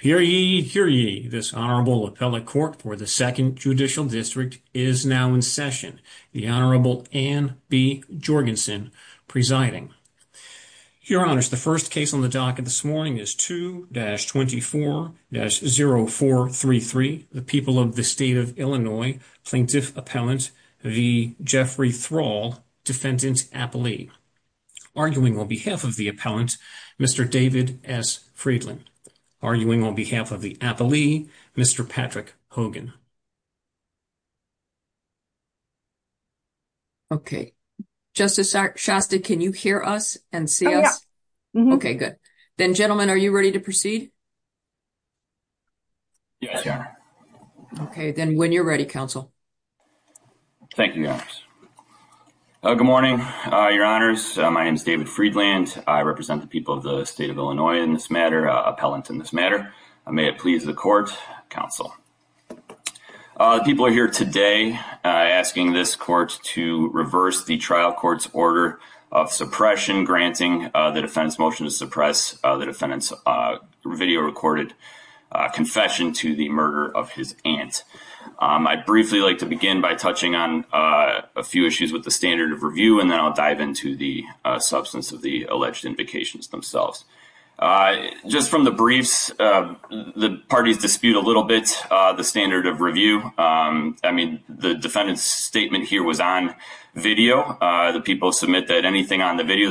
Hear ye, hear ye, this Honorable Appellate Court for the 2nd Judicial District is now in session. The Honorable Anne B. Jorgensen presiding. Your Honors, the first case on the docket this morning is 2-24-0433, the People of the State of Illinois Plaintiff Appellant v. Jeffrey Thrall, Defendant Appellee. Arguing on behalf of the Appellant, Mr. David S. Friedland. Arguing on behalf of the Appellee, Mr. Patrick Hogan. Okay, Justice Shasta, can you hear us and see us? Okay, good. Then, gentlemen, are you ready to proceed? Yes, Your Honor. Okay, then, when you're ready, Counsel. Thank you, Your Honor. Good morning, Your Honors. My name is David Friedland. I represent the People of the State of Illinois in this matter, Appellant in this matter. May it please the Court, Counsel. People are here today asking this Court to reverse the trial court's order of suppression, granting the defendant's motion to suppress the defendant's video-recorded confession to the murder of his aunt. I'd briefly like to begin by touching on a few issues with the standard of review, and then I'll dive into the substance of the alleged invocations themselves. Just from the briefs, the parties dispute a little bit the standard of review. I mean, the defendant's statement here was on video. The people submit that anything on the video,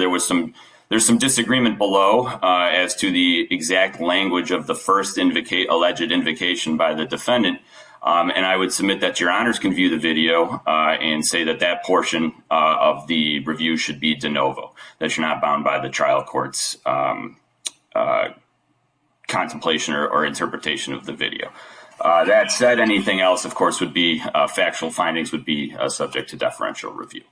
there's some disagreement below as to the exact language of the first alleged invocation by the defendant. And I would submit that Your Honors can view the video and say that that portion of the review should be de novo, that you're not bound by the trial court's contemplation or interpretation of the video. That said, anything else, of course, would be factual findings would be subject to deferential review.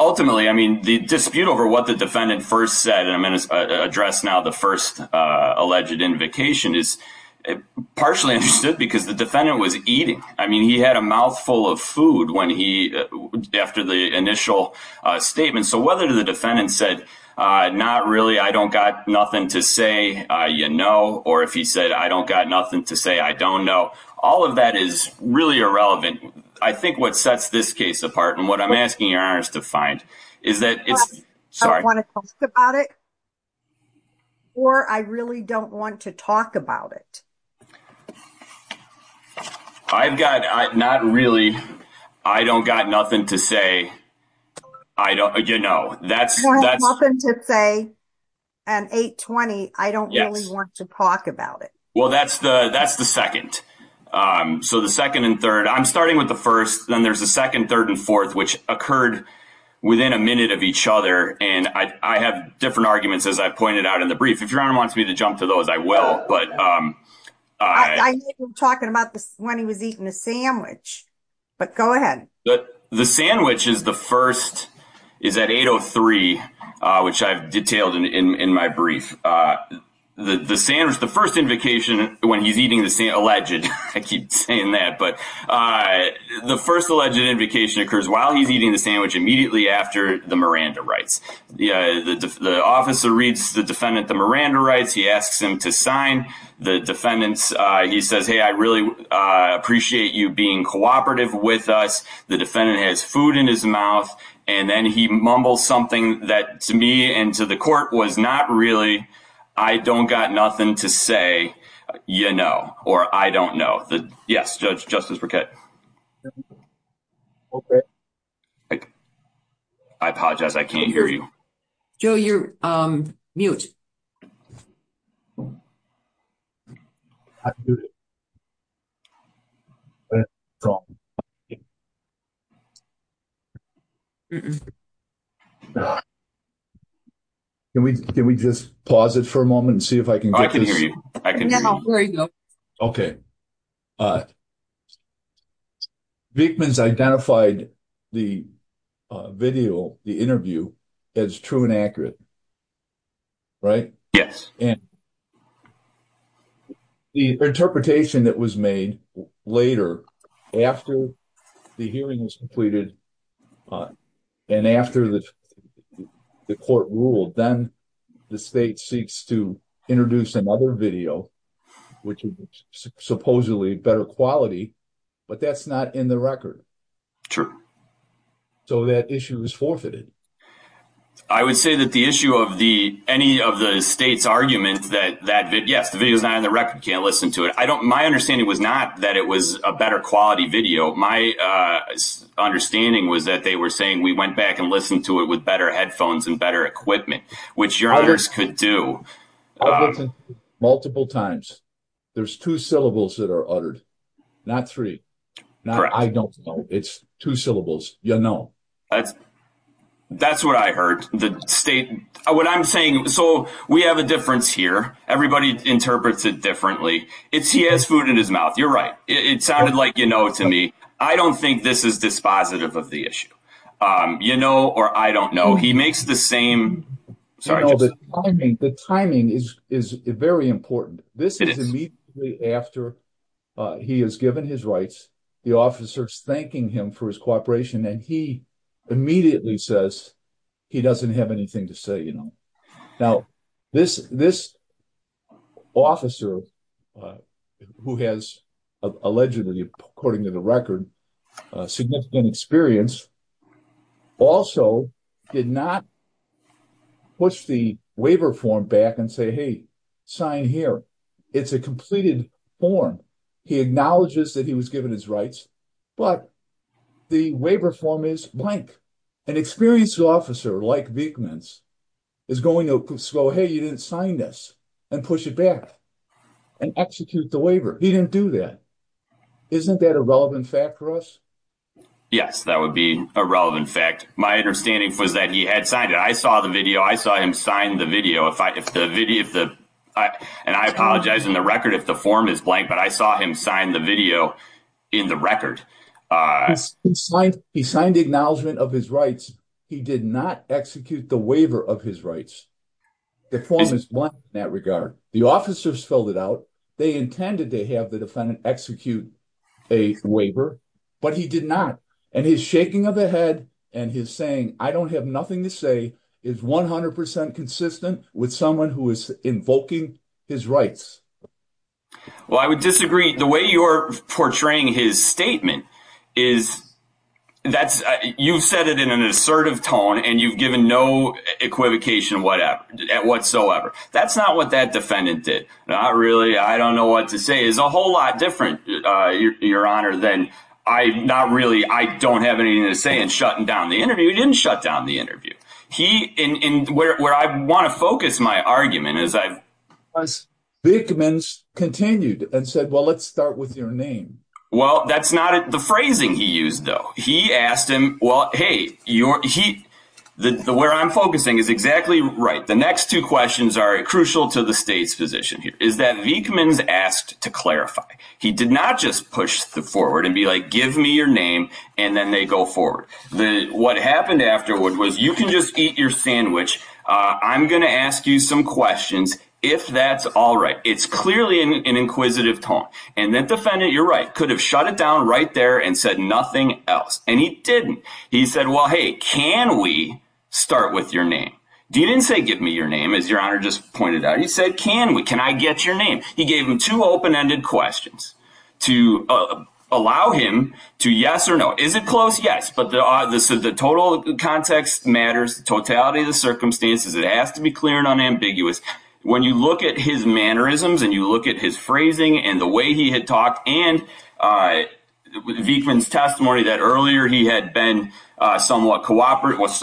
Ultimately, I mean, the dispute over what the defendant first said, and I'm going to address now the first alleged invocation, is partially understood because the defendant was eating. I mean, he had a mouthful of food after the initial statement. So whether the defendant said, not really, I don't got nothing to say, you know, or if he said, I don't got nothing to say, I don't know. All of that is really irrelevant. I think what sets this case apart and what I'm asking Your Honors to find is that it's... Sorry. I don't want to talk about it, or I really don't want to talk about it. I've got, not really, I don't got nothing to say. I don't, you know, that's... I don't got nothing to say, and 820, I don't really want to talk about it. Well, that's the second. So the second and third, I'm starting with the first. Then there's a second, third, and fourth, which occurred within a minute of each other, and I have different arguments, as I pointed out in the brief. If Your Honor wants me to jump to those, I will, but... I hear him talking about this when he was eating a sandwich, but go ahead. The sandwich is the first, is at 803, which I've detailed in my brief. The sandwich, the first invocation when he's eating the sandwich, alleged, I keep saying that, but the first alleged invocation occurs while he's eating the sandwich, immediately after the Miranda rights. The officer reads the defendant the Miranda rights. He asks him to sign. The defendant, he says, hey, I really appreciate you being cooperative with us. The defendant has food in his mouth, and then he mumbles something that to me and to the court was not really, I don't got nothing to say, you know, or I don't know. Yes, Judge Justice Burkett. I apologize, I can't hear you. Joe, you're mute. Can we just pause it for a moment and see if I can get this? I can hear you. Okay. Vickman's identified the video, the interview, as true and accurate. Right? Yes. The interpretation that was made later, after the hearing was completed, and after the court ruled, then the state seeks to introduce another video, which is supposedly better quality, but that's not in the record. Sure. So that issue is forfeited. I would say that the issue of any of the state's arguments that, yes, the video's not in the record, can't listen to it. My understanding was not that it was a better quality video. My understanding was that they were saying we went back and listened to it with better headphones and better equipment, which your ears could do. I've listened to it multiple times. There's two syllables that are uttered, not three. Correct. I don't know. It's two syllables. You know. That's what I heard. What I'm saying, so we have a difference here. Everybody interprets it differently. It's he has food in his mouth. You're right. It sounded like, you know, to me, I don't think this is dispositive of the issue. You know, or I don't know. He makes the same. Sorry. The timing is very important. This is immediately after he has given his rights. The officer's thanking him for his cooperation, and he immediately says he doesn't have anything to say, you know. Now, this officer who has allegedly, according to the record, significant experience also did not push the waiver form back and say, hey, sign here. It's a completed form. He acknowledges that he was given his rights, but the waiver form is blank. An experienced officer like Vickmans is going to go, hey, you didn't sign this and push it back and execute the waiver. He didn't do that. Isn't that a relevant fact for us? Yes, that would be a relevant fact. My understanding was that he had signed it. I saw the video. I saw him sign the video. And I apologize in the record if the form is blank, but I saw him sign the video in the record. He signed the acknowledgment of his rights. He did not execute the waiver of his rights. The form is blank in that regard. The officers filled it out. They intended to have the defendant execute a waiver, but he did not. And his shaking of the head and his saying I don't have nothing to say is 100% consistent with someone who is invoking his rights. Well, I would disagree. The way you're portraying his statement is that you've said it in an assertive tone and you've given no equivocation whatsoever. That's not what that defendant did. Not really. I don't know what to say. It's a whole lot different, Your Honor, than I don't have anything to say and shutting down the interview. He didn't shut down the interview. Where I want to focus my argument is that Vickmans continued and said, well, let's start with your name. Well, that's not the phrasing he used, though. He asked him, well, hey, where I'm focusing is exactly right. The next two questions are crucial to the state's position here is that Vickmans asked to clarify. He did not just push forward and be like, give me your name, and then they go forward. What happened afterward was you can just eat your sandwich. I'm going to ask you some questions if that's all right. It's clearly an inquisitive tone. And that defendant, you're right, could have shut it down right there and said nothing else. And he didn't. He said, well, hey, can we start with your name? He didn't say give me your name, as Your Honor just pointed out. He said, can we? Can I get your name? He gave him two open-ended questions to allow him to yes or no. Is it close? Yes. But the total context matters, the totality of the circumstances. It has to be clear and unambiguous. When you look at his mannerisms and you look at his phrasing and the way he had talked and Vickmans' testimony that earlier he had been somewhat cooperative with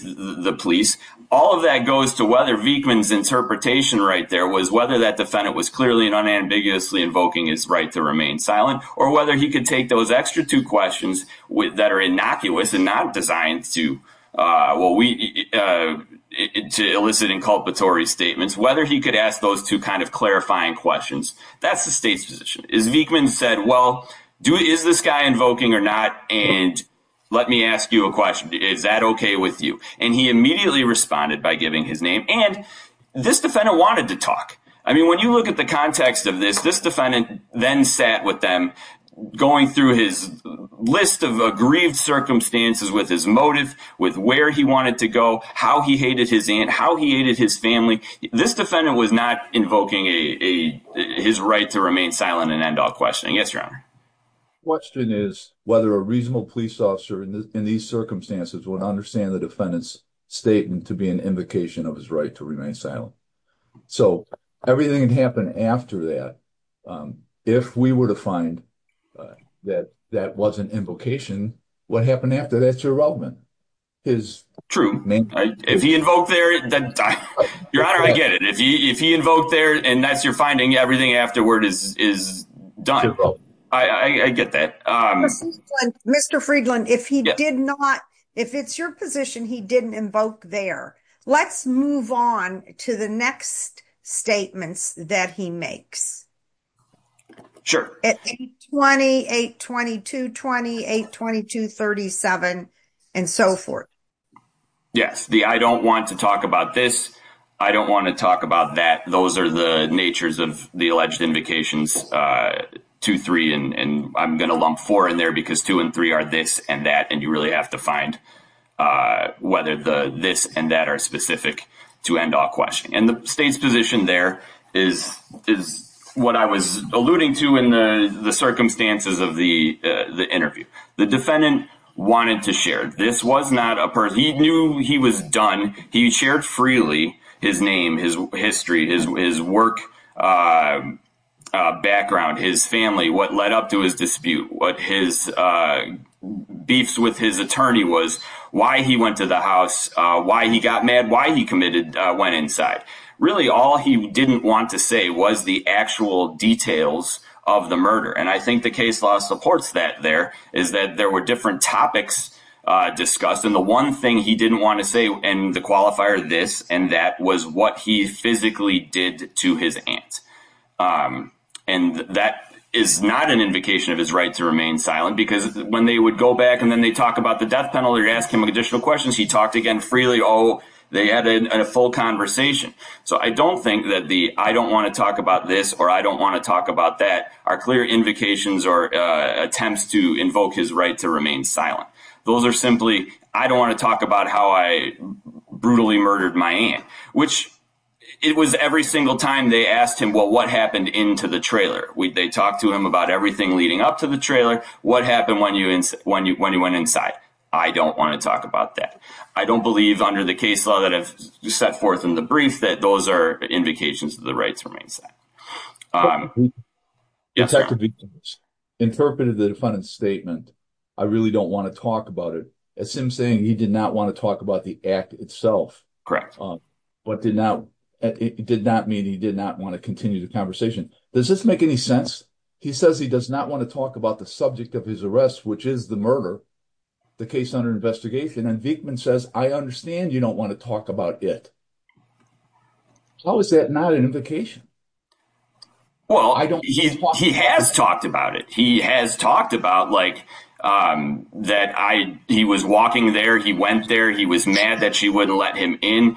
the police, all of that goes to whether Vickmans' interpretation right there was whether that defendant was clearly and unambiguously invoking his right to remain silent or whether he could take those extra two questions that are innocuous and not designed to, well, to elicit inculpatory statements, whether he could ask those two kind of clarifying questions, that's the state's position. As Vickmans said, well, is this guy invoking or not? And let me ask you a question. Is that okay with you? And he immediately responded by giving his name. And this defendant wanted to talk. I mean, when you look at the context of this, this defendant then sat with them going through his list of aggrieved circumstances with his motive, with where he wanted to go, how he hated his aunt, how he hated his family. This defendant was not invoking his right to remain silent and end all questioning. Yes, Your Honor. The question is whether a reasonable police officer in these circumstances would understand the defendant's statement to be an invocation of his right to remain silent. So everything that happened after that, if we were to find that that wasn't an invocation, what happened after that's your involvement? True. If he invoked there, Your Honor, I get it. If he invoked there and that's your finding, everything afterward is done. I get that. Mr. Friedland, if he did not, if it's your position he didn't invoke there, let's move on to the next statements that he makes. Sure. 820, 822, 822-37, and so forth. Yes. The I don't want to talk about this, I don't want to talk about that, those are the natures of the alleged invocations, 2, 3, and I'm going to lump 4 in there because 2 and 3 are this and that, and you really have to find whether the this and that are specific to end all questioning. And the state's position there is what I was alluding to in the circumstances of the interview. The defendant wanted to share. This was not a person, he knew he was done, he shared freely his name, his history, his work background, his family, what led up to his dispute, what his beefs with his attorney was, why he went to the house, why he got mad, why he committed, went inside. Really all he didn't want to say was the actual details of the murder, and I think the case law supports that there, is that there were different topics discussed, and the one thing he didn't want to say in the qualifier, this and that, was what he physically did to his aunt. And that is not an invocation of his right to remain silent, because when they would go back and then they'd talk about the death penalty or ask him additional questions, he talked again freely. Oh, they had a full conversation. So I don't think that the I don't want to talk about this or I don't want to talk about that are clear invocations or attempts to invoke his right to remain silent. Those are simply I don't want to talk about how I brutally murdered my aunt, which it was every single time they asked him, well, what happened into the trailer? They talked to him about everything leading up to the trailer. What happened when you went inside? I don't want to talk about that. I don't want to talk about that. I don't believe under the case law that I've set forth in the brief that those are invocations of the right to remain silent. Yes, sir. Interpreted the defendant's statement. I really don't want to talk about it. It's him saying he did not want to talk about the act itself. But did not, it did not mean he did not want to continue the conversation. Does this make any sense? He says he does not want to talk about the subject of his arrest, which is the murder, the case under investigation. And Vickman says, I understand you don't want to talk about it. How is that not an invocation? Well, I don't. He has talked about it. He has talked about like that. I, he was walking there. He went there. He was mad that she wouldn't let him in.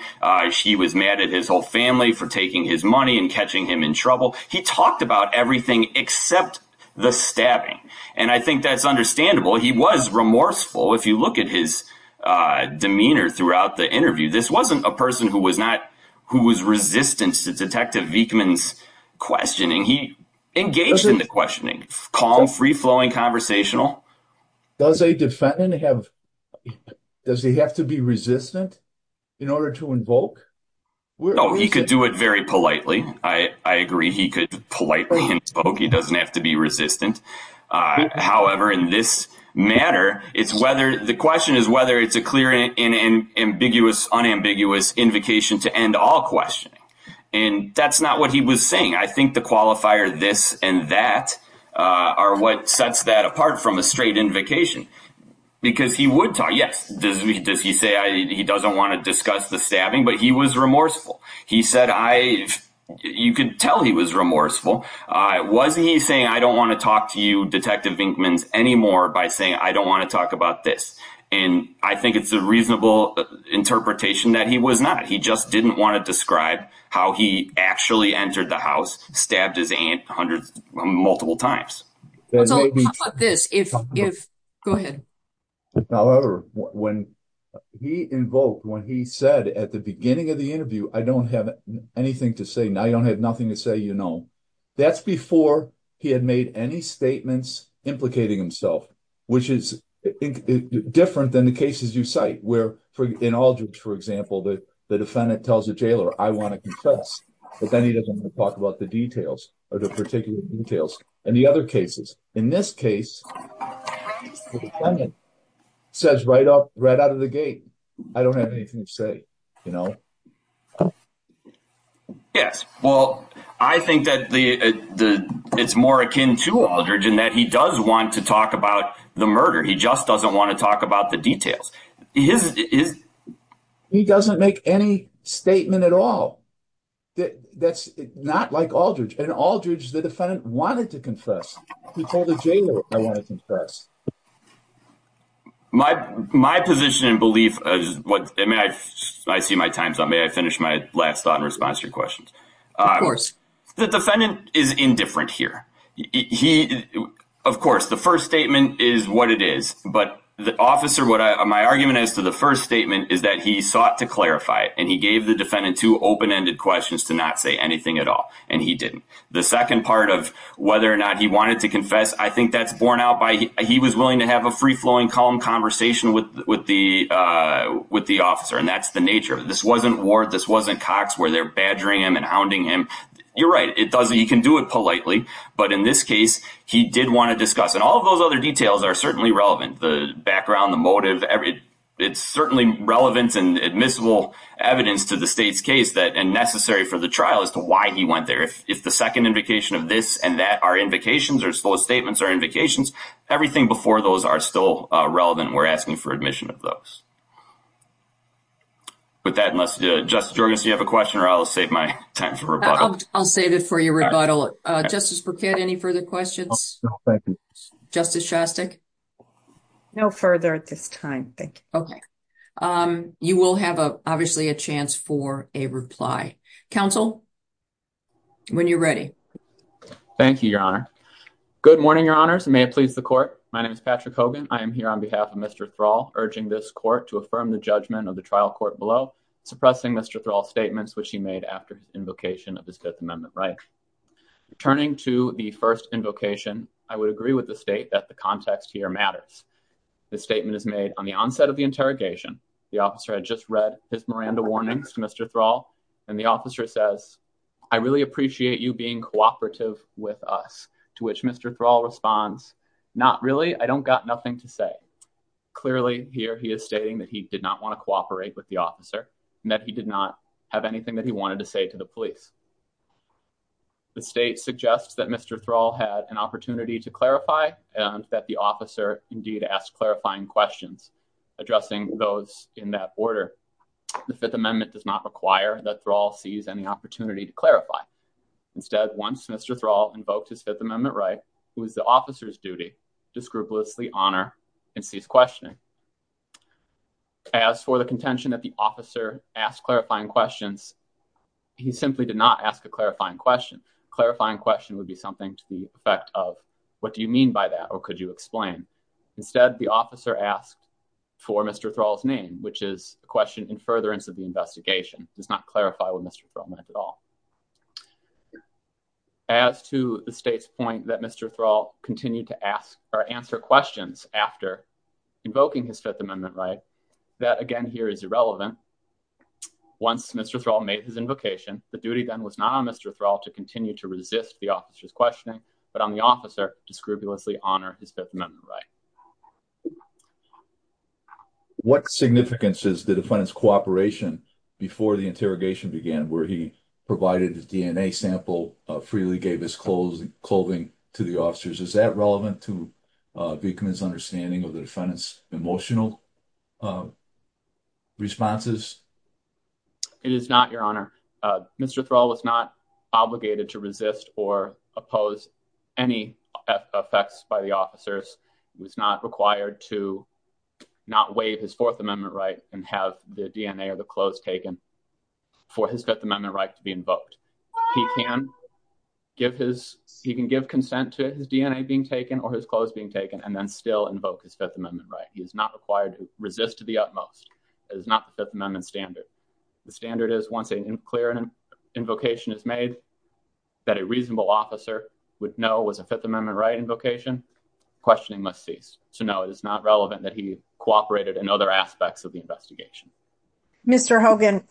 She was mad at his whole family for taking his money and catching him in trouble. He talked about everything except the stabbing. And I think that's understandable. He was remorseful. If you look at his demeanor throughout the interview, this wasn't a person who was not, who was resistant to detective Vickman's questioning. He engaged in the questioning, calm, free flowing, conversational. Does a defendant have, does he have to be resistant in order to invoke? No, he could do it very politely. I agree. He could politely invoke. He doesn't have to be resistant. However, in this matter, it's whether the question is, whether it's a clear and ambiguous unambiguous invocation to end all questioning. And that's not what he was saying. I think the qualifier, this and that are what sets that apart from a straight invocation because he would talk. Yes. Does he, does he say he doesn't want to discuss the stabbing, but he was remorseful. He said, I, you could tell he was remorseful. Was he saying, I don't want to talk to you detective Vickman's anymore by saying, I don't want to talk about this. And I think it's a reasonable interpretation that he was not, he just didn't want to describe how he actually entered the house, stabbed his aunt hundreds, multiple times. How about this? If, if go ahead. However, when he invoked, when he said at the beginning of the interview, I don't have anything to say. Now you don't have nothing to say. You know, that's before he had made any statements implicating himself, which is different than the cases you cite where for, in all jokes, for example, that the defendant tells the jailer, I want to confess, but then he doesn't want to talk about the details or the particular details and the other cases. In this case, Says right up right out of the gate. I don't have anything to say, you know? Yes. Well, I think that the, the, it's more akin to Aldridge and that he does want to talk about the murder. He just doesn't want to talk about the details. He doesn't make any statement at all. That's not like Aldridge and Aldridge. The defendant wanted to confess. He told the jailer, I want to confess. My, my position and belief is what, I mean, I, I see my time. May I finish my last thought in response to your questions? The defendant is indifferent here. He, of course, the first statement is what it is, but the officer, what my argument is to the first statement is that he sought to clarify it. And he gave the defendant to open-ended questions to not say anything at all. And he didn't the second part of whether or not he wanted to confess. I think that's borne out by, he was willing to have a free flowing calm conversation with, with the with the officer. And that's the nature of this. Wasn't Ward. This wasn't Cox where they're badgering him and hounding him. You're right. It does. He can do it politely, but in this case, he did want to discuss and all of those other details are certainly relevant. The background, the motive, every. It's certainly relevant and admissible evidence to the state's case that, and necessary for the trial as to why he went there. If the second invocation of this and that are invocations or slow statements or invocations, everything before those are still relevant. We're asking for admission of those. With that, unless you have a question or I'll save my time for rebuttal. I'll save it for your rebuttal. Justice for kid. Any further questions? Justice. No further at this time. Thank you. Okay. You will have a, obviously a chance for a reply council when you're ready. Thank you, your honor. Good morning. Your honors may please the court. My name is Patrick Hogan. I am here on behalf of Mr. Thrall urging this court to affirm the judgment of the trial court below suppressing Mr. Thrall statements, which he made after invocation of his fifth amendment, right? Turning to the first invocation. I would agree with the state that the context here matters. The statement is made on the onset of the interrogation. The officer had just read his Miranda warnings to Mr. Thrall. And the officer says, I really appreciate you being cooperative with us to which Mr. Thrall responds. Not really. I don't got nothing to say. Clearly here, he is stating that he did not want to cooperate with the officer and that he did not have anything that he wanted to say to the police. The state suggests that Mr. Thrall had an opportunity to clarify and that the officer indeed asked clarifying questions, addressing those in that order. The fifth amendment does not require that Thrall sees any opportunity to Instead. Once Mr. Thrall invoked his fifth amendment, right. It was the officer's duty. Disgrupulously honor and cease questioning. As for the contention that the officer asked clarifying questions, he simply did not ask a clarifying question. Clarifying question would be something to the effect of what do you mean by that? Or could you explain instead? The officer asked for Mr. Thrall's name, which is a question in furtherance of the investigation does not clarify what Mr. Thrall meant at all. As to the state's point that Mr. Thrall continued to ask or answer questions after invoking his fifth amendment, right. That again here is irrelevant. Once Mr. Thrall made his invocation, the duty then was not on Mr. Thrall to continue to resist the officer's questioning, but on the officer to scrupulously honor his fifth amendment, right. What significance is the defendant's cooperation before the interrogation began, where he provided his DNA sample, freely gave his clothes and clothing to the officers. Is that relevant to become his understanding of the defendant's emotional responses? It is not your honor. Mr. Thrall was not obligated to resist or oppose any effects by the officers. It was not required to not waive his fourth amendment, right. He was not required to resist and have the DNA or the clothes taken for his fifth amendment, right. To be invoked. He can give his, he can give consent to his DNA being taken or his clothes being taken and then still invoke his fifth amendment. Right. He is not required to resist to the utmost. It is not the fifth amendment standard. The standard is once a clear and an invocation is made. That a reasonable officer would know was a fifth amendment, right. Invocation questioning must cease. So no, it is not relevant that he cooperated in other aspects of the investigation. Mr. Hogan.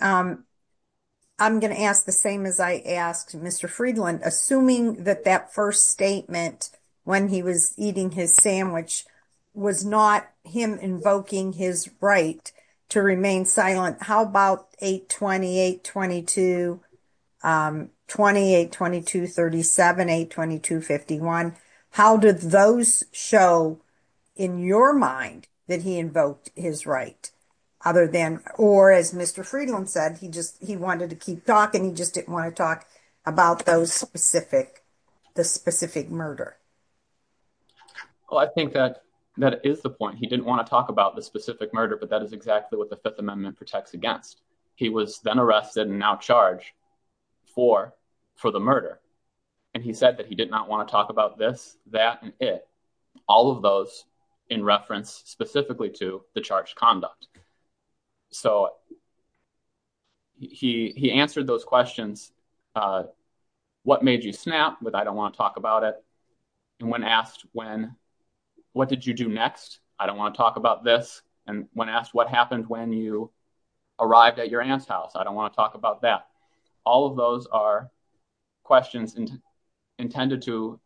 I'm going to ask the same as I asked Mr. Friedland, assuming that that first statement when he was eating his sandwich was not him invoking his right to remain silent. How about eight 28, 22, 28, 22, 37, eight, 22, 51. How did those show in your mind that he invoked his right? Other than, or as Mr. Friedland said, he just, he wanted to keep talking. He just didn't want to talk about those specific, the specific murder. Well, I think that that is the point he didn't want to talk about the specific murder, but that is exactly what the fifth amendment protects against. He was then arrested and now charged for, for the murder. And he said that he did not want to talk about this, that, and it, all of those in reference specifically to the charge conduct. So he, he answered those questions. What made you snap with, I don't want to talk about it. And when asked when, what did you do next? I don't want to talk about this. And when asked what happened when you arrived at your aunt's house, I don't want to talk about that. All of those are questions. Intended to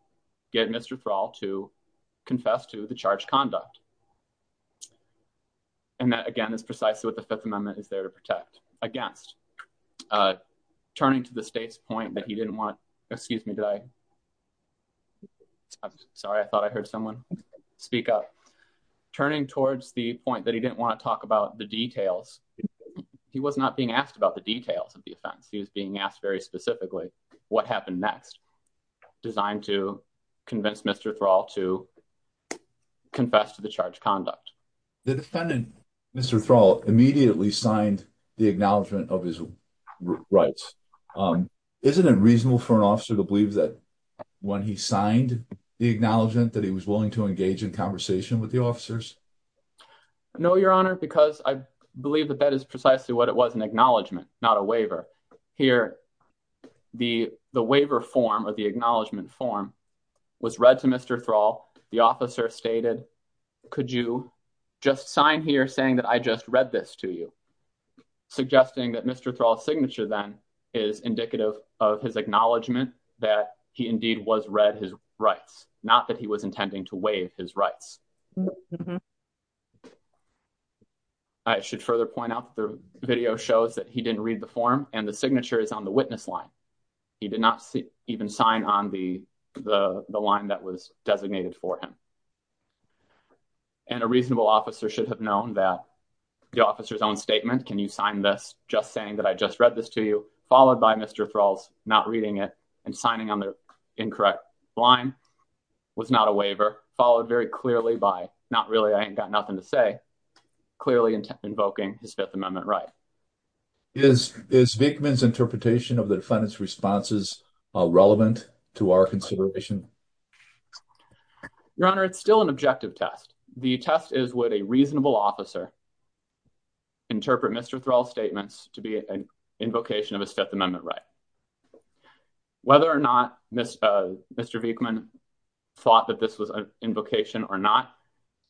get Mr. For all to confess to the charge conduct. And that again is precisely what the fifth amendment is there to protect against turning to the state's point that he didn't want, excuse me, did I. Sorry. I thought I heard someone speak up turning towards the point that he didn't want to talk about the details. He was not being asked about the details of the offense. He was being asked very specifically what happened next designed to convince Mr. Thrall to confess to the charge conduct. The defendant, Mr. Thrall immediately signed the acknowledgement of his rights. Isn't it reasonable for an officer to believe that when he signed the acknowledgement that he was willing to engage in conversation with the officers? No, your honor, because I believe that that is precisely what it was an acknowledgement, not a waiver here. The, the waiver form of the acknowledgement form was read to Mr. Thrall. The officer stated, could you just sign here saying that I just read this to you? Suggesting that Mr. Thrall signature then is indicative of his acknowledgement that he indeed was read his rights. Not that he was intending to waive his rights. I should further point out that the video shows that he didn't read the form and the signature is on the witness line. He did not even sign on the, the line that was designated for him and a reasonable officer should have known that the officer's own statement. Can you sign this? Just saying that I just read this to you, followed by Mr. Thrall's not reading it and signing on the incorrect line was not a waiver followed very clearly by not really. I ain't got nothing to say. Clearly invoking his fifth amendment, right? Is, is Vickman's interpretation of the defendant's responses relevant to our consideration? Your honor, it's still an objective test. The test is what a reasonable officer interpret Mr. Thrall statements to be an invocation of a fifth amendment, right? Whether or not Mr. Mr. Vickman thought that this was an invocation or not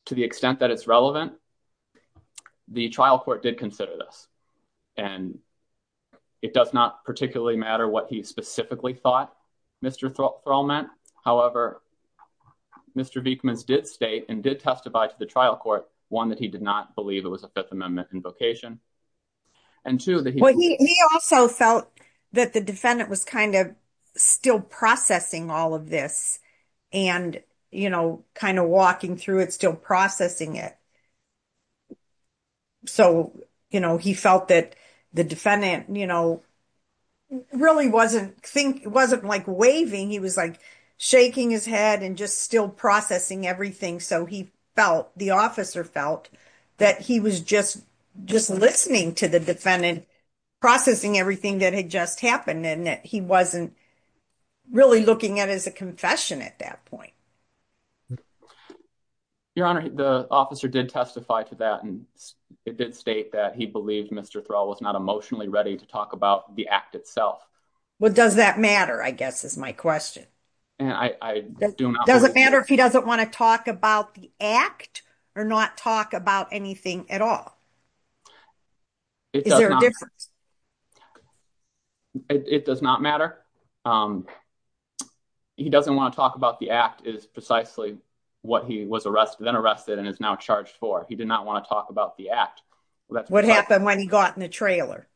to the extent that it's relevant, the trial court did consider this and it does not particularly matter what he specifically thought Mr. Thrall meant. Mr. Vickman's did state and did testify to the trial court. One that he did not believe it was a fifth amendment invocation. And two that he also felt that the defendant was kind of still processing all of this and, you know, kind of walking through it, still processing it. So, you know, he felt that the defendant, you know, really wasn't think it wasn't like waving. He was like shaking his head and just still processing everything. So he felt the officer felt that he was just, just listening to the defendant, processing everything that had just happened. And that he wasn't really looking at as a confession at that point. Your honor. The officer did testify to that and it did state that he believed Mr. Thrall was not emotionally ready to talk about the act itself. What does that matter? I guess is my question. And I do not. Does it matter if he doesn't want to talk about the act or not talk about anything at all? Is there a difference? It does not matter. He doesn't want to talk about the act is precisely what he was arrested and is now charged for. He did not want to talk about the act. What happened when he got in the trailer?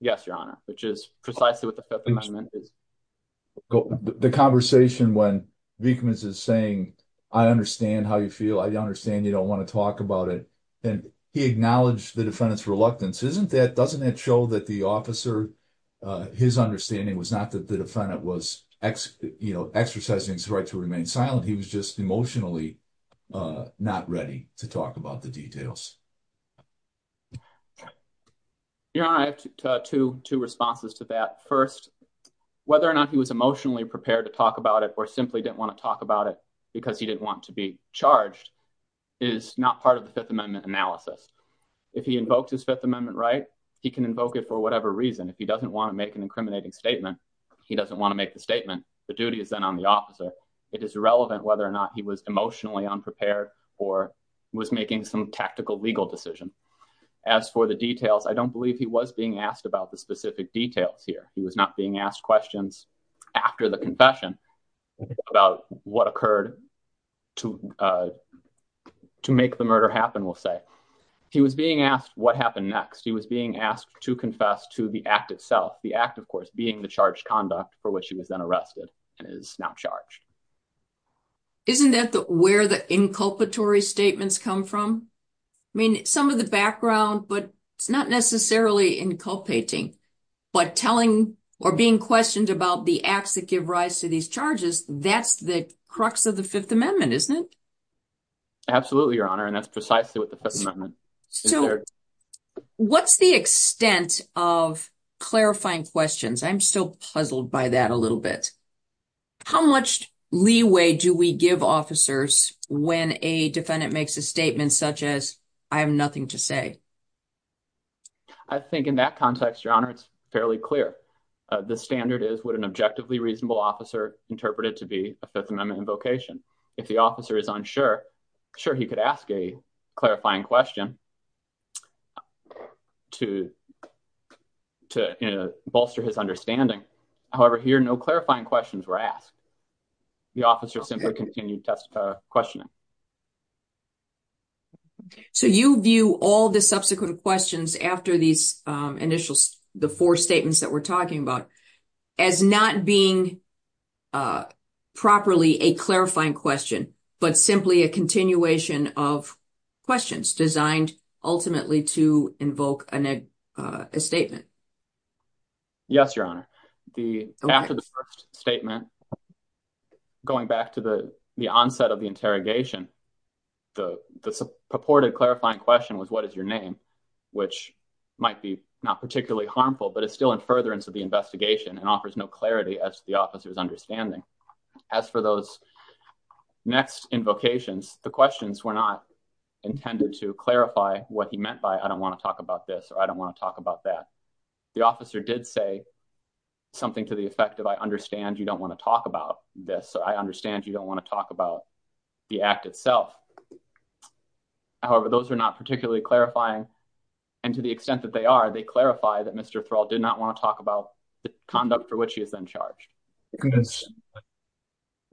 Yes, your honor, which is precisely what the fifth amendment is. The conversation when Vickman's is saying, I understand how you feel. I understand. You don't want to talk about it. And he acknowledged the defendant's reluctance. Isn't that, doesn't that show that the officer his understanding was not that the defendant was X, you know, exercising his right to remain silent. He was just emotionally not ready to talk about the details. Your honor, I have two, two responses to that first, whether or not he was emotionally prepared to talk about it or simply didn't want to talk about it because he didn't want to be charged is not part of the fifth amendment analysis. If he invoked his fifth amendment, right, he can invoke it for whatever reason. If he doesn't want to make an incriminating statement, he doesn't want to make the statement. The duty is then on the officer. It is relevant whether or not he was emotionally unprepared or was making some tactical legal decision. As for the details, I don't believe he was being asked about the specific details here. He was not being asked questions after the confession about what occurred to, uh, to make the murder happen. We'll say he was being asked what happened next. He was being asked to confess to the act itself. The act of course, being the charge conduct for which he was then arrested and is now charged. Isn't that the, where the inculpatory statements come from? I mean, some of the background, but it's not necessarily inculpating, but telling or being questioned about the acts that give rise to these charges. That's the crux of the fifth amendment, isn't it? Absolutely. Your honor. And that's precisely what the fifth amendment. So what's the extent of clarifying questions? I'm still puzzled by that a little bit. How much leeway do we give officers when a defendant makes a statement such as I have nothing to say? I think in that context, your honor, it's fairly clear. Uh, the standard is what an objectively reasonable officer interpreted to be a fifth amendment invocation. If the officer is unsure, sure. He could ask a clarifying question to, to bolster his understanding. However, here, no clarifying questions were asked. The officer simply continued test, uh, So you view all the subsequent questions after these, um, initials, the four statements that we're talking about as not being, uh, properly a clarifying question, but simply a continuation of questions designed ultimately to invoke an, uh, a statement. Yes, your honor. The, after the first statement going back to the, the onset of the interrogation, the purported clarifying question was what is your name, which might be not particularly harmful, but it's still in furtherance of the investigation and offers no clarity as the officer was understanding. As for those next invocations, the questions were not intended to clarify what he meant by. I don't want to talk about this, or I don't want to talk about that. The officer did say something to the effect of, I understand you don't want to talk about this, or I understand you don't want to talk about the act itself. However, those are not particularly clarifying. And to the extent that they are, they clarify that Mr. Thrall did not want to talk about the conduct for which he has been charged.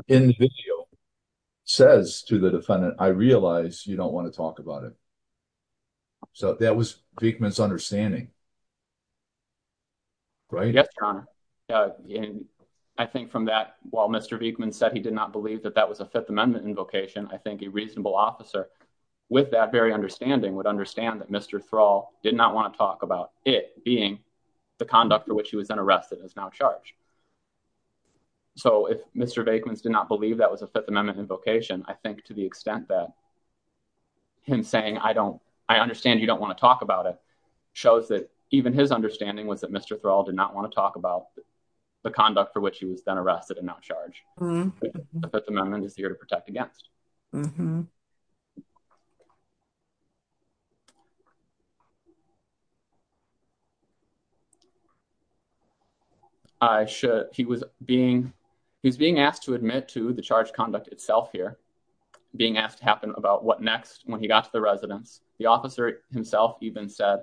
In the video says to the defendant, I realize you don't want to talk about it. So that was Vickman's understanding. Right. Yes. And I think from that, while Mr. Vickman said he did not believe that that was a fifth amendment invocation, I think a reasonable officer with that very understanding would understand that Mr. Thrall did not want to talk about it being the conduct for which he was unarrested is now charged. So if Mr. Vickman's did not believe that was a fifth amendment invocation, I think to the extent that him saying, I don't, I understand you don't want to talk about it shows that even his understanding was that Mr. Thrall did not want to talk about the conduct for which he was then arrested and not charged. The fifth amendment is here to protect against. I should. He was being, he was being asked to admit to the charge conduct itself here being asked to happen about what next, when he got to the residence, the officer himself even said,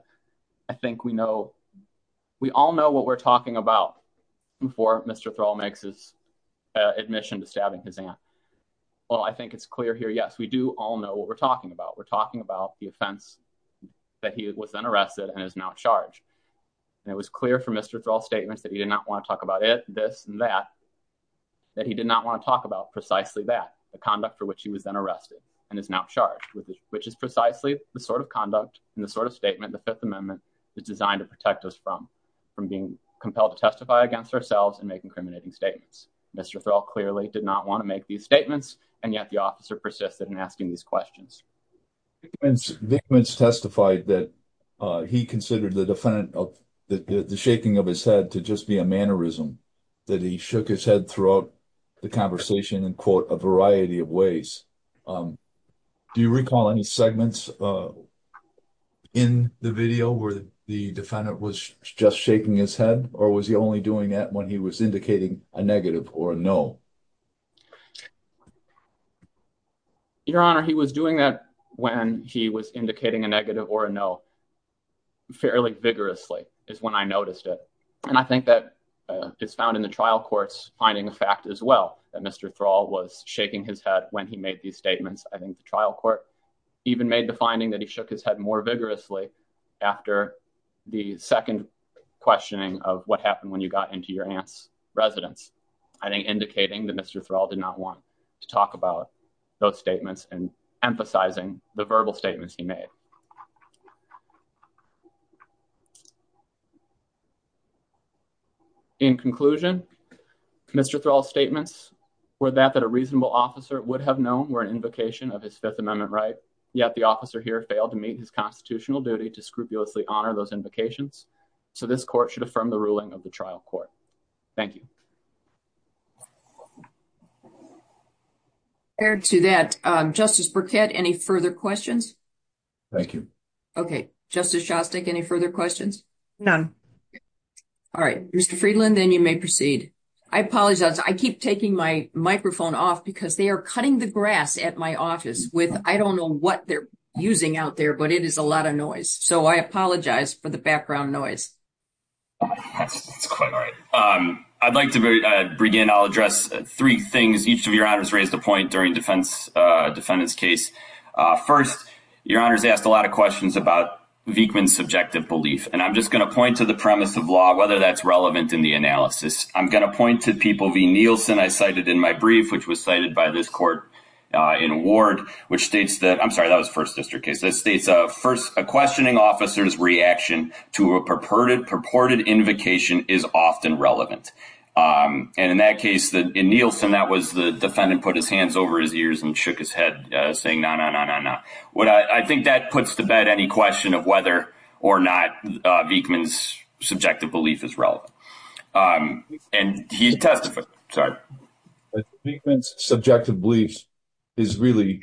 I think we know, we all know what we're talking about before Mr. Thrall makes his admission to stabbing his aunt. Well, I think it's clear here. Yes, we do all know what we're talking about. We're talking about the offense that he was unarrested and is now charged. And it was clear from Mr. Thrall statements that he did not want to talk about it, this, and that, that he did not want to talk about precisely that the conduct for which he was then arrested and is now charged with, which is precisely the sort of conduct and the sort of statement. The fifth amendment is designed to protect us from, from being compelled to testify against ourselves and make incriminating statements. Mr. Thrall clearly did not want to make these statements. And yet the officer persisted in asking these questions. Testified that he considered the defendant of the, the shaking of his head to just be a mannerism that he shook his head throughout the conversation and quote a variety of ways. Do you recall any segments in the video where the defendant was just shaking his head or was he only doing that when he was indicating a negative or a no. Your honor, he was doing that when he was indicating a negative or a no fairly vigorously is when I noticed it. And I think that it's found in the trial courts, finding a fact as well that Mr. Thrall was shaking his head when he made these statements. I think the trial court even made the finding that he shook his head more vigorously after the second questioning of what happened when you got into your aunt's residence. I think indicating that Mr. Thrall did not want to talk about those statements and emphasizing the verbal statements he made. In conclusion, Mr. Thrall's statements were that that a reasonable officer would have known were an invocation of his fifth amendment, right? Yet the officer here failed to meet his constitutional duty to scrupulously honor those invocations. So this court should affirm the ruling of the trial court. Thank you. To that justice Burkett, any further questions? Thank you. Okay. Justice Shostak, any further questions? None. All right. Mr. Friedland, then you may proceed. I apologize. I keep taking my microphone off because they are cutting the grass at my office with, I don't know what they're using out there, but it is a lot of noise. So I apologize for the background noise. All right. I'd like to bring in, I'll address three things. Each of your honors raised a point during defense defendant's case. First, your honors asked a lot of questions about Vickman subjective belief, and I'm just going to point to the premise of law, whether that's relevant in the analysis. I'm going to point to people V Nielsen, I cited in my brief, which was cited by this court in award, which states that I'm sorry, that was first district case. That states a first, a questioning officer's reaction to a purported purported invocation is often relevant. And in that case, that in Nielsen that was the defendant put his hands over his ears and shook his head saying, no, no, no, no, no. What I think that puts the bed, any question of whether or not Vickman's subjective belief is relevant. And he testified, sorry. Vickman's subjective beliefs is really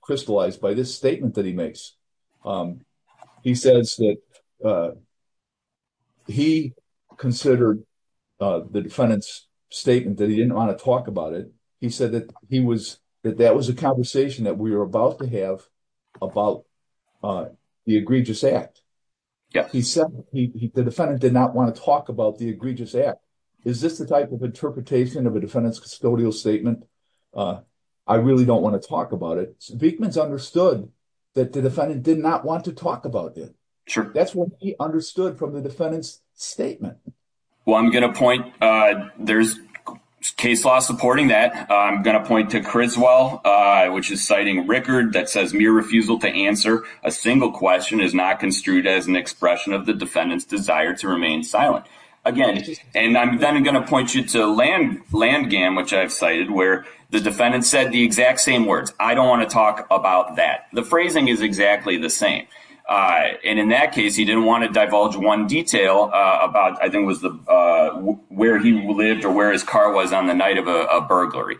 crystallized by this statement that he makes. He says that he considered the defendant's statement that he didn't want to talk about it. He said that he was that that was a conversation that we were about to have about the egregious act. He said the defendant did not want to talk about the egregious act. Is this the type of interpretation of a defendant's custodial statement? I really don't want to talk about it. Vickman's understood that the defendant did not want to talk about it. That's what he understood from the defendant's statement. Well, I'm going to point there's case law supporting that. I'm going to point to Criswell, which is citing record that says mere refusal to answer a single question is not construed as an expression of the defendant's desire to remain silent again. And I'm then going to point you to land land game, which I've cited where the defendant said the exact same words. I don't want to talk about that. The phrasing is exactly the same. And in that case, he didn't want to divulge one detail about, I think was the where he lived or where his car was on the night of a murder.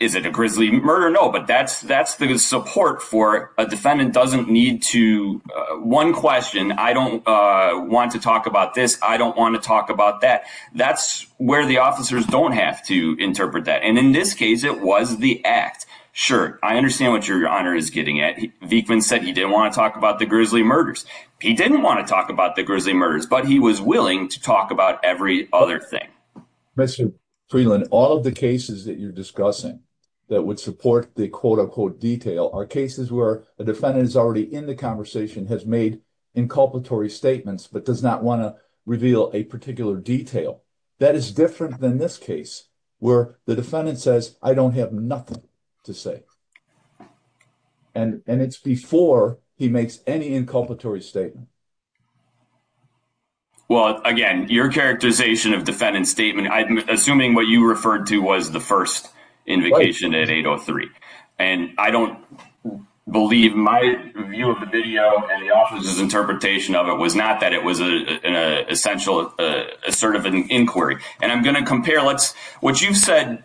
Is it a grisly murder? No, but that's, that's the support for a defendant doesn't need to one question. I don't want to talk about this. I don't want to talk about that. That's where the officers don't have to interpret that. And in this case, it was the act shirt. I understand what your honor is getting at. Vickman said he didn't want to talk about the grisly murders. He didn't want to talk about the grisly murders, but he was willing to talk about every other thing. Mr. Freeland, all of the cases that you're discussing that would support the quote unquote detail are cases where a defendant is already in the conversation, has made inculpatory statements, but does not want to reveal a particular detail. That is different than this case where the defendant says, I don't have nothing to say. And, and it's before he makes any inculpatory statement. Well, again, your characterization of defendant statement, I'm assuming what you referred to was the first invocation at 803. And I don't believe my view of the video and the officer's interpretation of it was not that it was an essential assertive inquiry. And I'm going to compare, let's what you've said,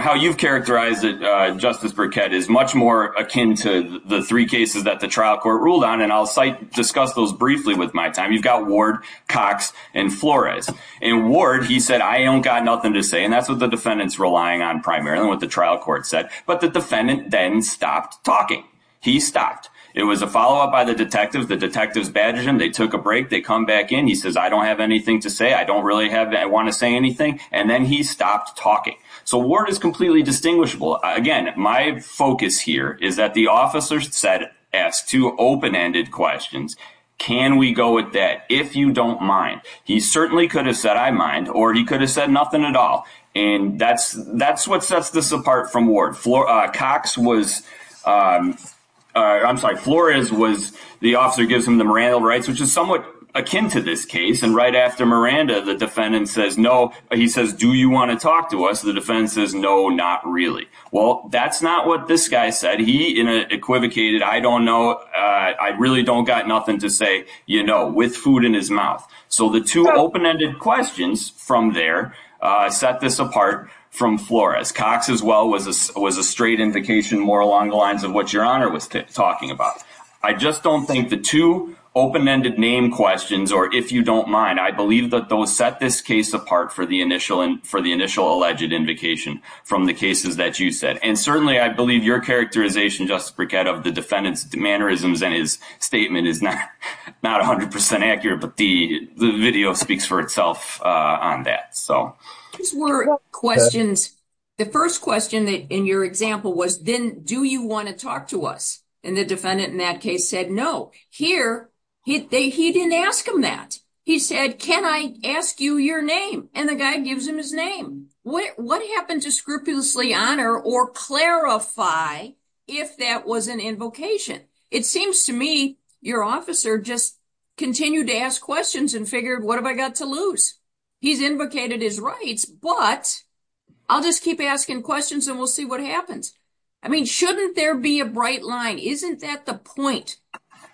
how you've characterized it. Justice Burkett is much more akin to the three cases that the trial court ruled on. And I'll site discuss those briefly with my time. You've got ward Cox and Flores and ward. He said, I don't got nothing to say. And that's what the defendants relying on primarily what the trial court said, but the defendant then stopped talking. He stopped. It was a follow-up by the detective. The detectives badgered him. They took a break. They come back in. He says, I don't have anything to say. I don't really have that. I want to say anything. And then he stopped talking. So word is completely distinguishable. Again, my focus here is that the officer said, ask two open-ended questions. Can we go with that? If you don't mind, he certainly could have said, I mind, or he could have said nothing at all. And that's, that's what sets this apart from ward floor. Cox was, I'm sorry. Flores was the officer gives him the morale rights, which is somewhat akin to this case. And right after Miranda, the defendant says, no, he says, do you want to talk to us? The defense says, no, not really. Well, that's not what this guy said. He in a equivocated. I don't know. I really don't got nothing to say, you know, with food in his mouth. So the two open-ended questions from there, set this apart from Flores Cox as well, was a, was a straight indication more along the lines of what your honor was talking about. I just don't think the two open-ended name questions, or if you don't mind, I believe that those set this case apart for the initial and for the initial alleged invocation from the cases that you said. And certainly I believe your characterization, just to break out of the defendant's mannerisms and his statement is not, not a hundred percent accurate, but the video speaks for itself on that. So these were questions. The first question that in your example was, then do you want to talk to us? And the defendant in that case said, no, here. He didn't ask him that. He said, can I ask you your name? And the guy gives him his name. What happened to scrupulously honor or clarify if that was an invocation? It seems to me, your officer just continued to ask questions and figured, what have I got to lose? He's invocated his rights, but I'll just keep asking questions and we'll see what happens. I mean, shouldn't there be a bright line? Isn't that the point?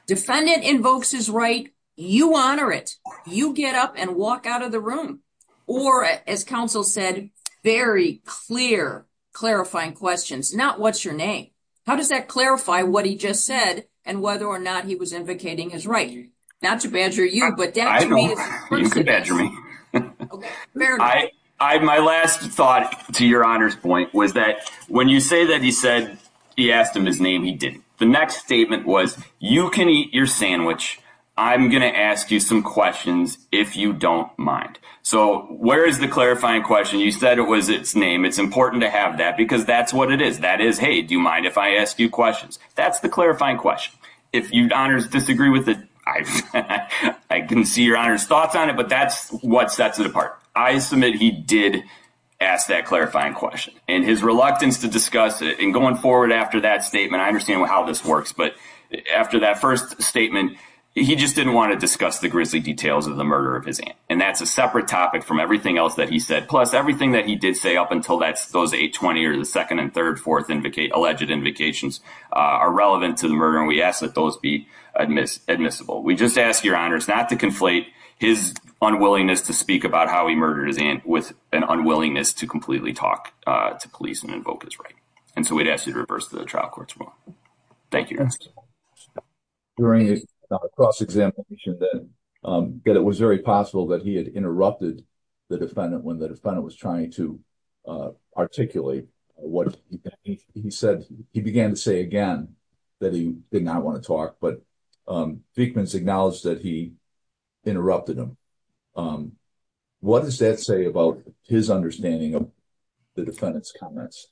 Defendant invokes his right. You honor it. You get up and walk out of the room. Or as counsel said, very clear, clarifying questions, not what's your name. How does that clarify what he just said and whether or not he was invocating his right? Not to badger you, but you can badger me. I, I, my last thought to your honors point was that when you say that, he said, he asked him his name. He did. The next statement was, you can eat your sandwich. I'm going to ask you some questions if you don't mind. So where is the clarifying question? You said it was its name. It's important to have that because that's what it is. That is, do you mind if I ask you questions? That's the clarifying question. If you'd honors disagree with it, I can see your honors thoughts on it, but that's what sets it apart. I submit. He did ask that clarifying question and his reluctance to discuss it and going forward after that statement. I understand how this works, but after that first statement, he just didn't want to discuss the grizzly details of the murder of his aunt. And that's a separate topic from everything else that he said. Plus everything that he did say up until that, those 820 or the 2nd and 3rd, 4th indicate alleged invocations are relevant to the murder. And we ask that those be admissible. We just ask your honors not to conflate his unwillingness to speak about how he murdered his aunt with an unwillingness to completely talk to police and invoke his right. And so we'd ask you to reverse the trial court tomorrow. Thank you. During the cross examination, then it was very possible that he had interrupted the defendant when the defendant was trying to articulate what he said. He began to say again that he did not want to talk, but acknowledge that he interrupted him. What does that say about his understanding of the defendant's comments?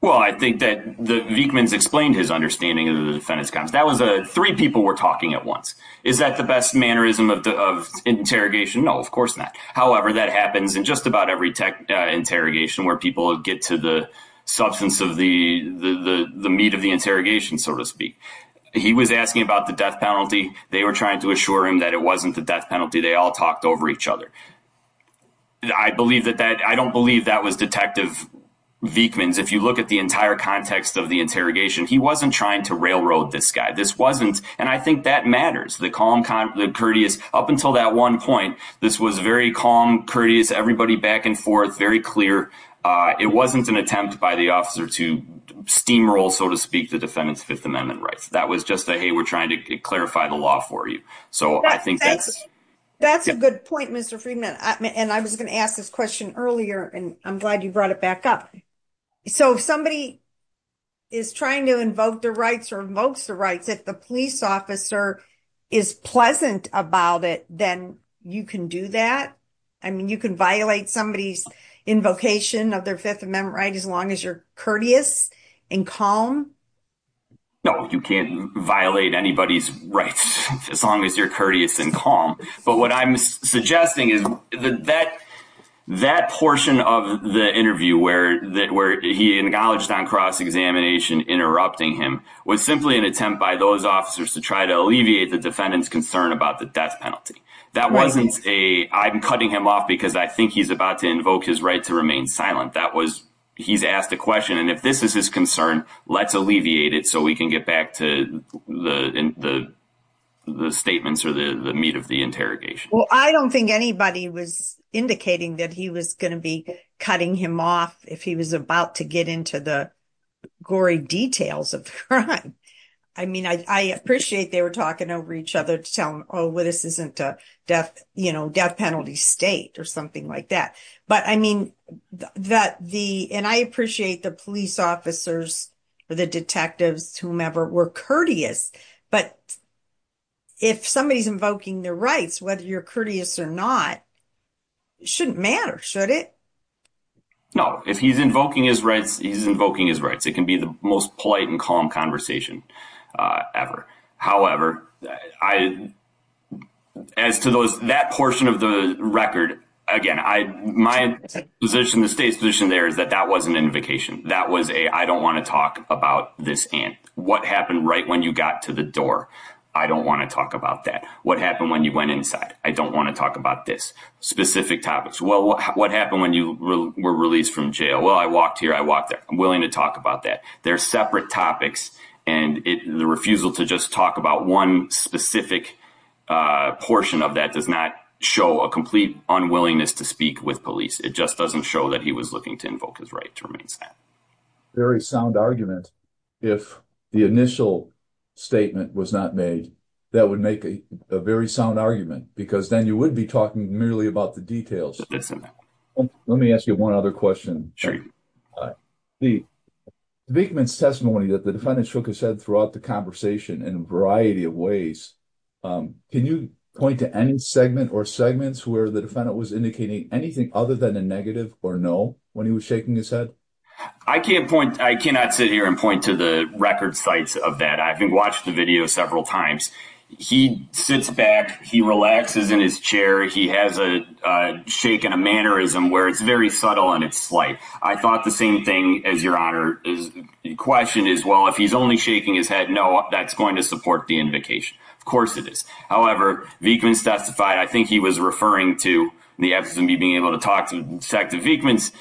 Well, I think that the Vickman's explained his understanding of the defendant's comments. That was a 3 people were talking at once. Is that the best mannerism of interrogation? No, of course not. However, that happens in just about every tech interrogation where people get to the substance of the, the, the meat of the interrogation, so to speak, he was asking about the death penalty. They were trying to assure him that it wasn't the death penalty. They all talked over each other. I believe that that I don't believe that was detective Vickman's. If you look at the entire context of the interrogation, he wasn't trying to railroad this guy. This wasn't. And I think that matters. The calm, the courteous up until that 1 point, this was very calm, everybody back and forth, very clear. It wasn't an attempt by the officer to steamroll, so to speak, the defendant's 5th amendment rights. That was just a, we're trying to clarify the law for you. So I think that's, that's a good point. Mr. Freeman, and I was going to ask this question earlier, and I'm glad you brought it back up. So, if somebody. Is trying to invoke the rights or most the rights that the police officer. Is pleasant about it, then you can do that. I mean, you can violate somebody's invocation of their 5th amendment, right? As long as you're courteous and calm. No, you can't violate anybody's rights. As long as you're courteous and calm. But what I'm suggesting is that. That portion of the interview, where that, where he acknowledged on cross examination, interrupting him was simply an attempt by those officers to try to alleviate the defendant's concern about the death penalty. That wasn't a, I'm cutting him off because I think he's about to invoke his right to remain silent. That was, he's asked the question. And if this is his concern, let's alleviate it. So we can get back to the, the. The statements are the meat of the interrogation. Well, I don't think anybody was indicating that he was going to be cutting him off if he was about to get into the. Gory details of crime. I mean, I, I appreciate they were talking over each other to tell him, well, this isn't a death death penalty state or something like that. But I mean, that the, and I appreciate the police officers. The detectives, whomever were courteous, If somebody's invoking their rights, whether you're courteous or not. Shouldn't matter, should it? No, if he's invoking his rights, he's invoking his rights. It can be the most polite and calm conversation ever. However, I. As to those, that portion of the record again, my position, the state's position there is that that was an invocation. That was a, I don't want to talk about this. And what happened right? When you got to the door, I don't want to talk about that. What happened when you went inside? I don't want to talk about this specific topics. Well, what happened when you were released from jail? Well, I walked here. I walked there. I'm willing to talk about that. There are separate topics and the refusal to just talk about one specific. A portion of that does not show a complete unwillingness to speak with police. It just doesn't show that he was looking to invoke his right to remain sad. That's a very sound argument. If the initial statement was not made, that would make a very sound argument because then you wouldn't be talking merely about the details. Let me ask you one other question. The big man's testimony that the defendant shook his head throughout the conversation in a variety of ways. Can you point to any segment or segments where the defendant was indicating anything other than a negative or no, when he was shaking his head? I can't point. I cannot sit here and point to the record sites of that. I've been watching the video several times. He sits back. He relaxes in his chair. He has a shake and a mannerism where it's very subtle and it's slight. I thought the same thing as your honor is question as well. If he's only shaking his head, no, that's going to support the invocation. Of course it is. However, Vickman's testified. I think he was referring to the absence of me being able to talk to Vickman's.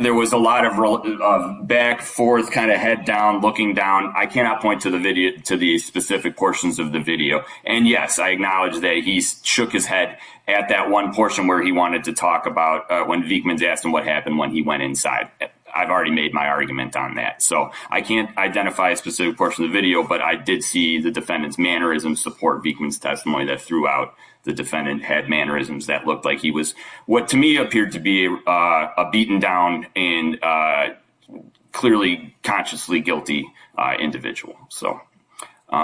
There was a lot of back forth, kind of head down, looking down. I cannot point to the video, to the specific portions of the video. And yes, I acknowledge that he shook his head at that one portion where he wanted to talk about when Vickman's asked him what happened when he went inside. I've already made my argument on that. So I can't identify a specific portion of the video, but I did see the defendant's mannerism support Vickman's testimony that throughout the defendant had mannerisms that looked like he was what to me appeared to be a beaten down and clearly consciously guilty individual. So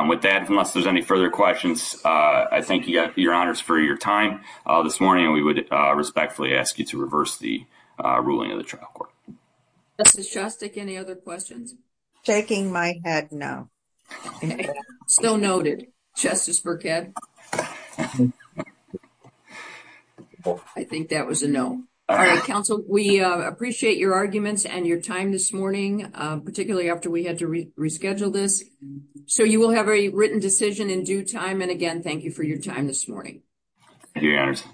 with that, unless there's any further questions, I thank you, your honors for your time this morning, and we would respectfully ask you to reverse the ruling of the trial court. any other questions? Shaking my head, no. Still noted, Justice Burkhead. I think that was a no. All right, counsel, we appreciate your arguments and your time this morning, particularly after we had to reschedule this. So you will have a written decision in due time. And again, thank you for your time this morning. Yes.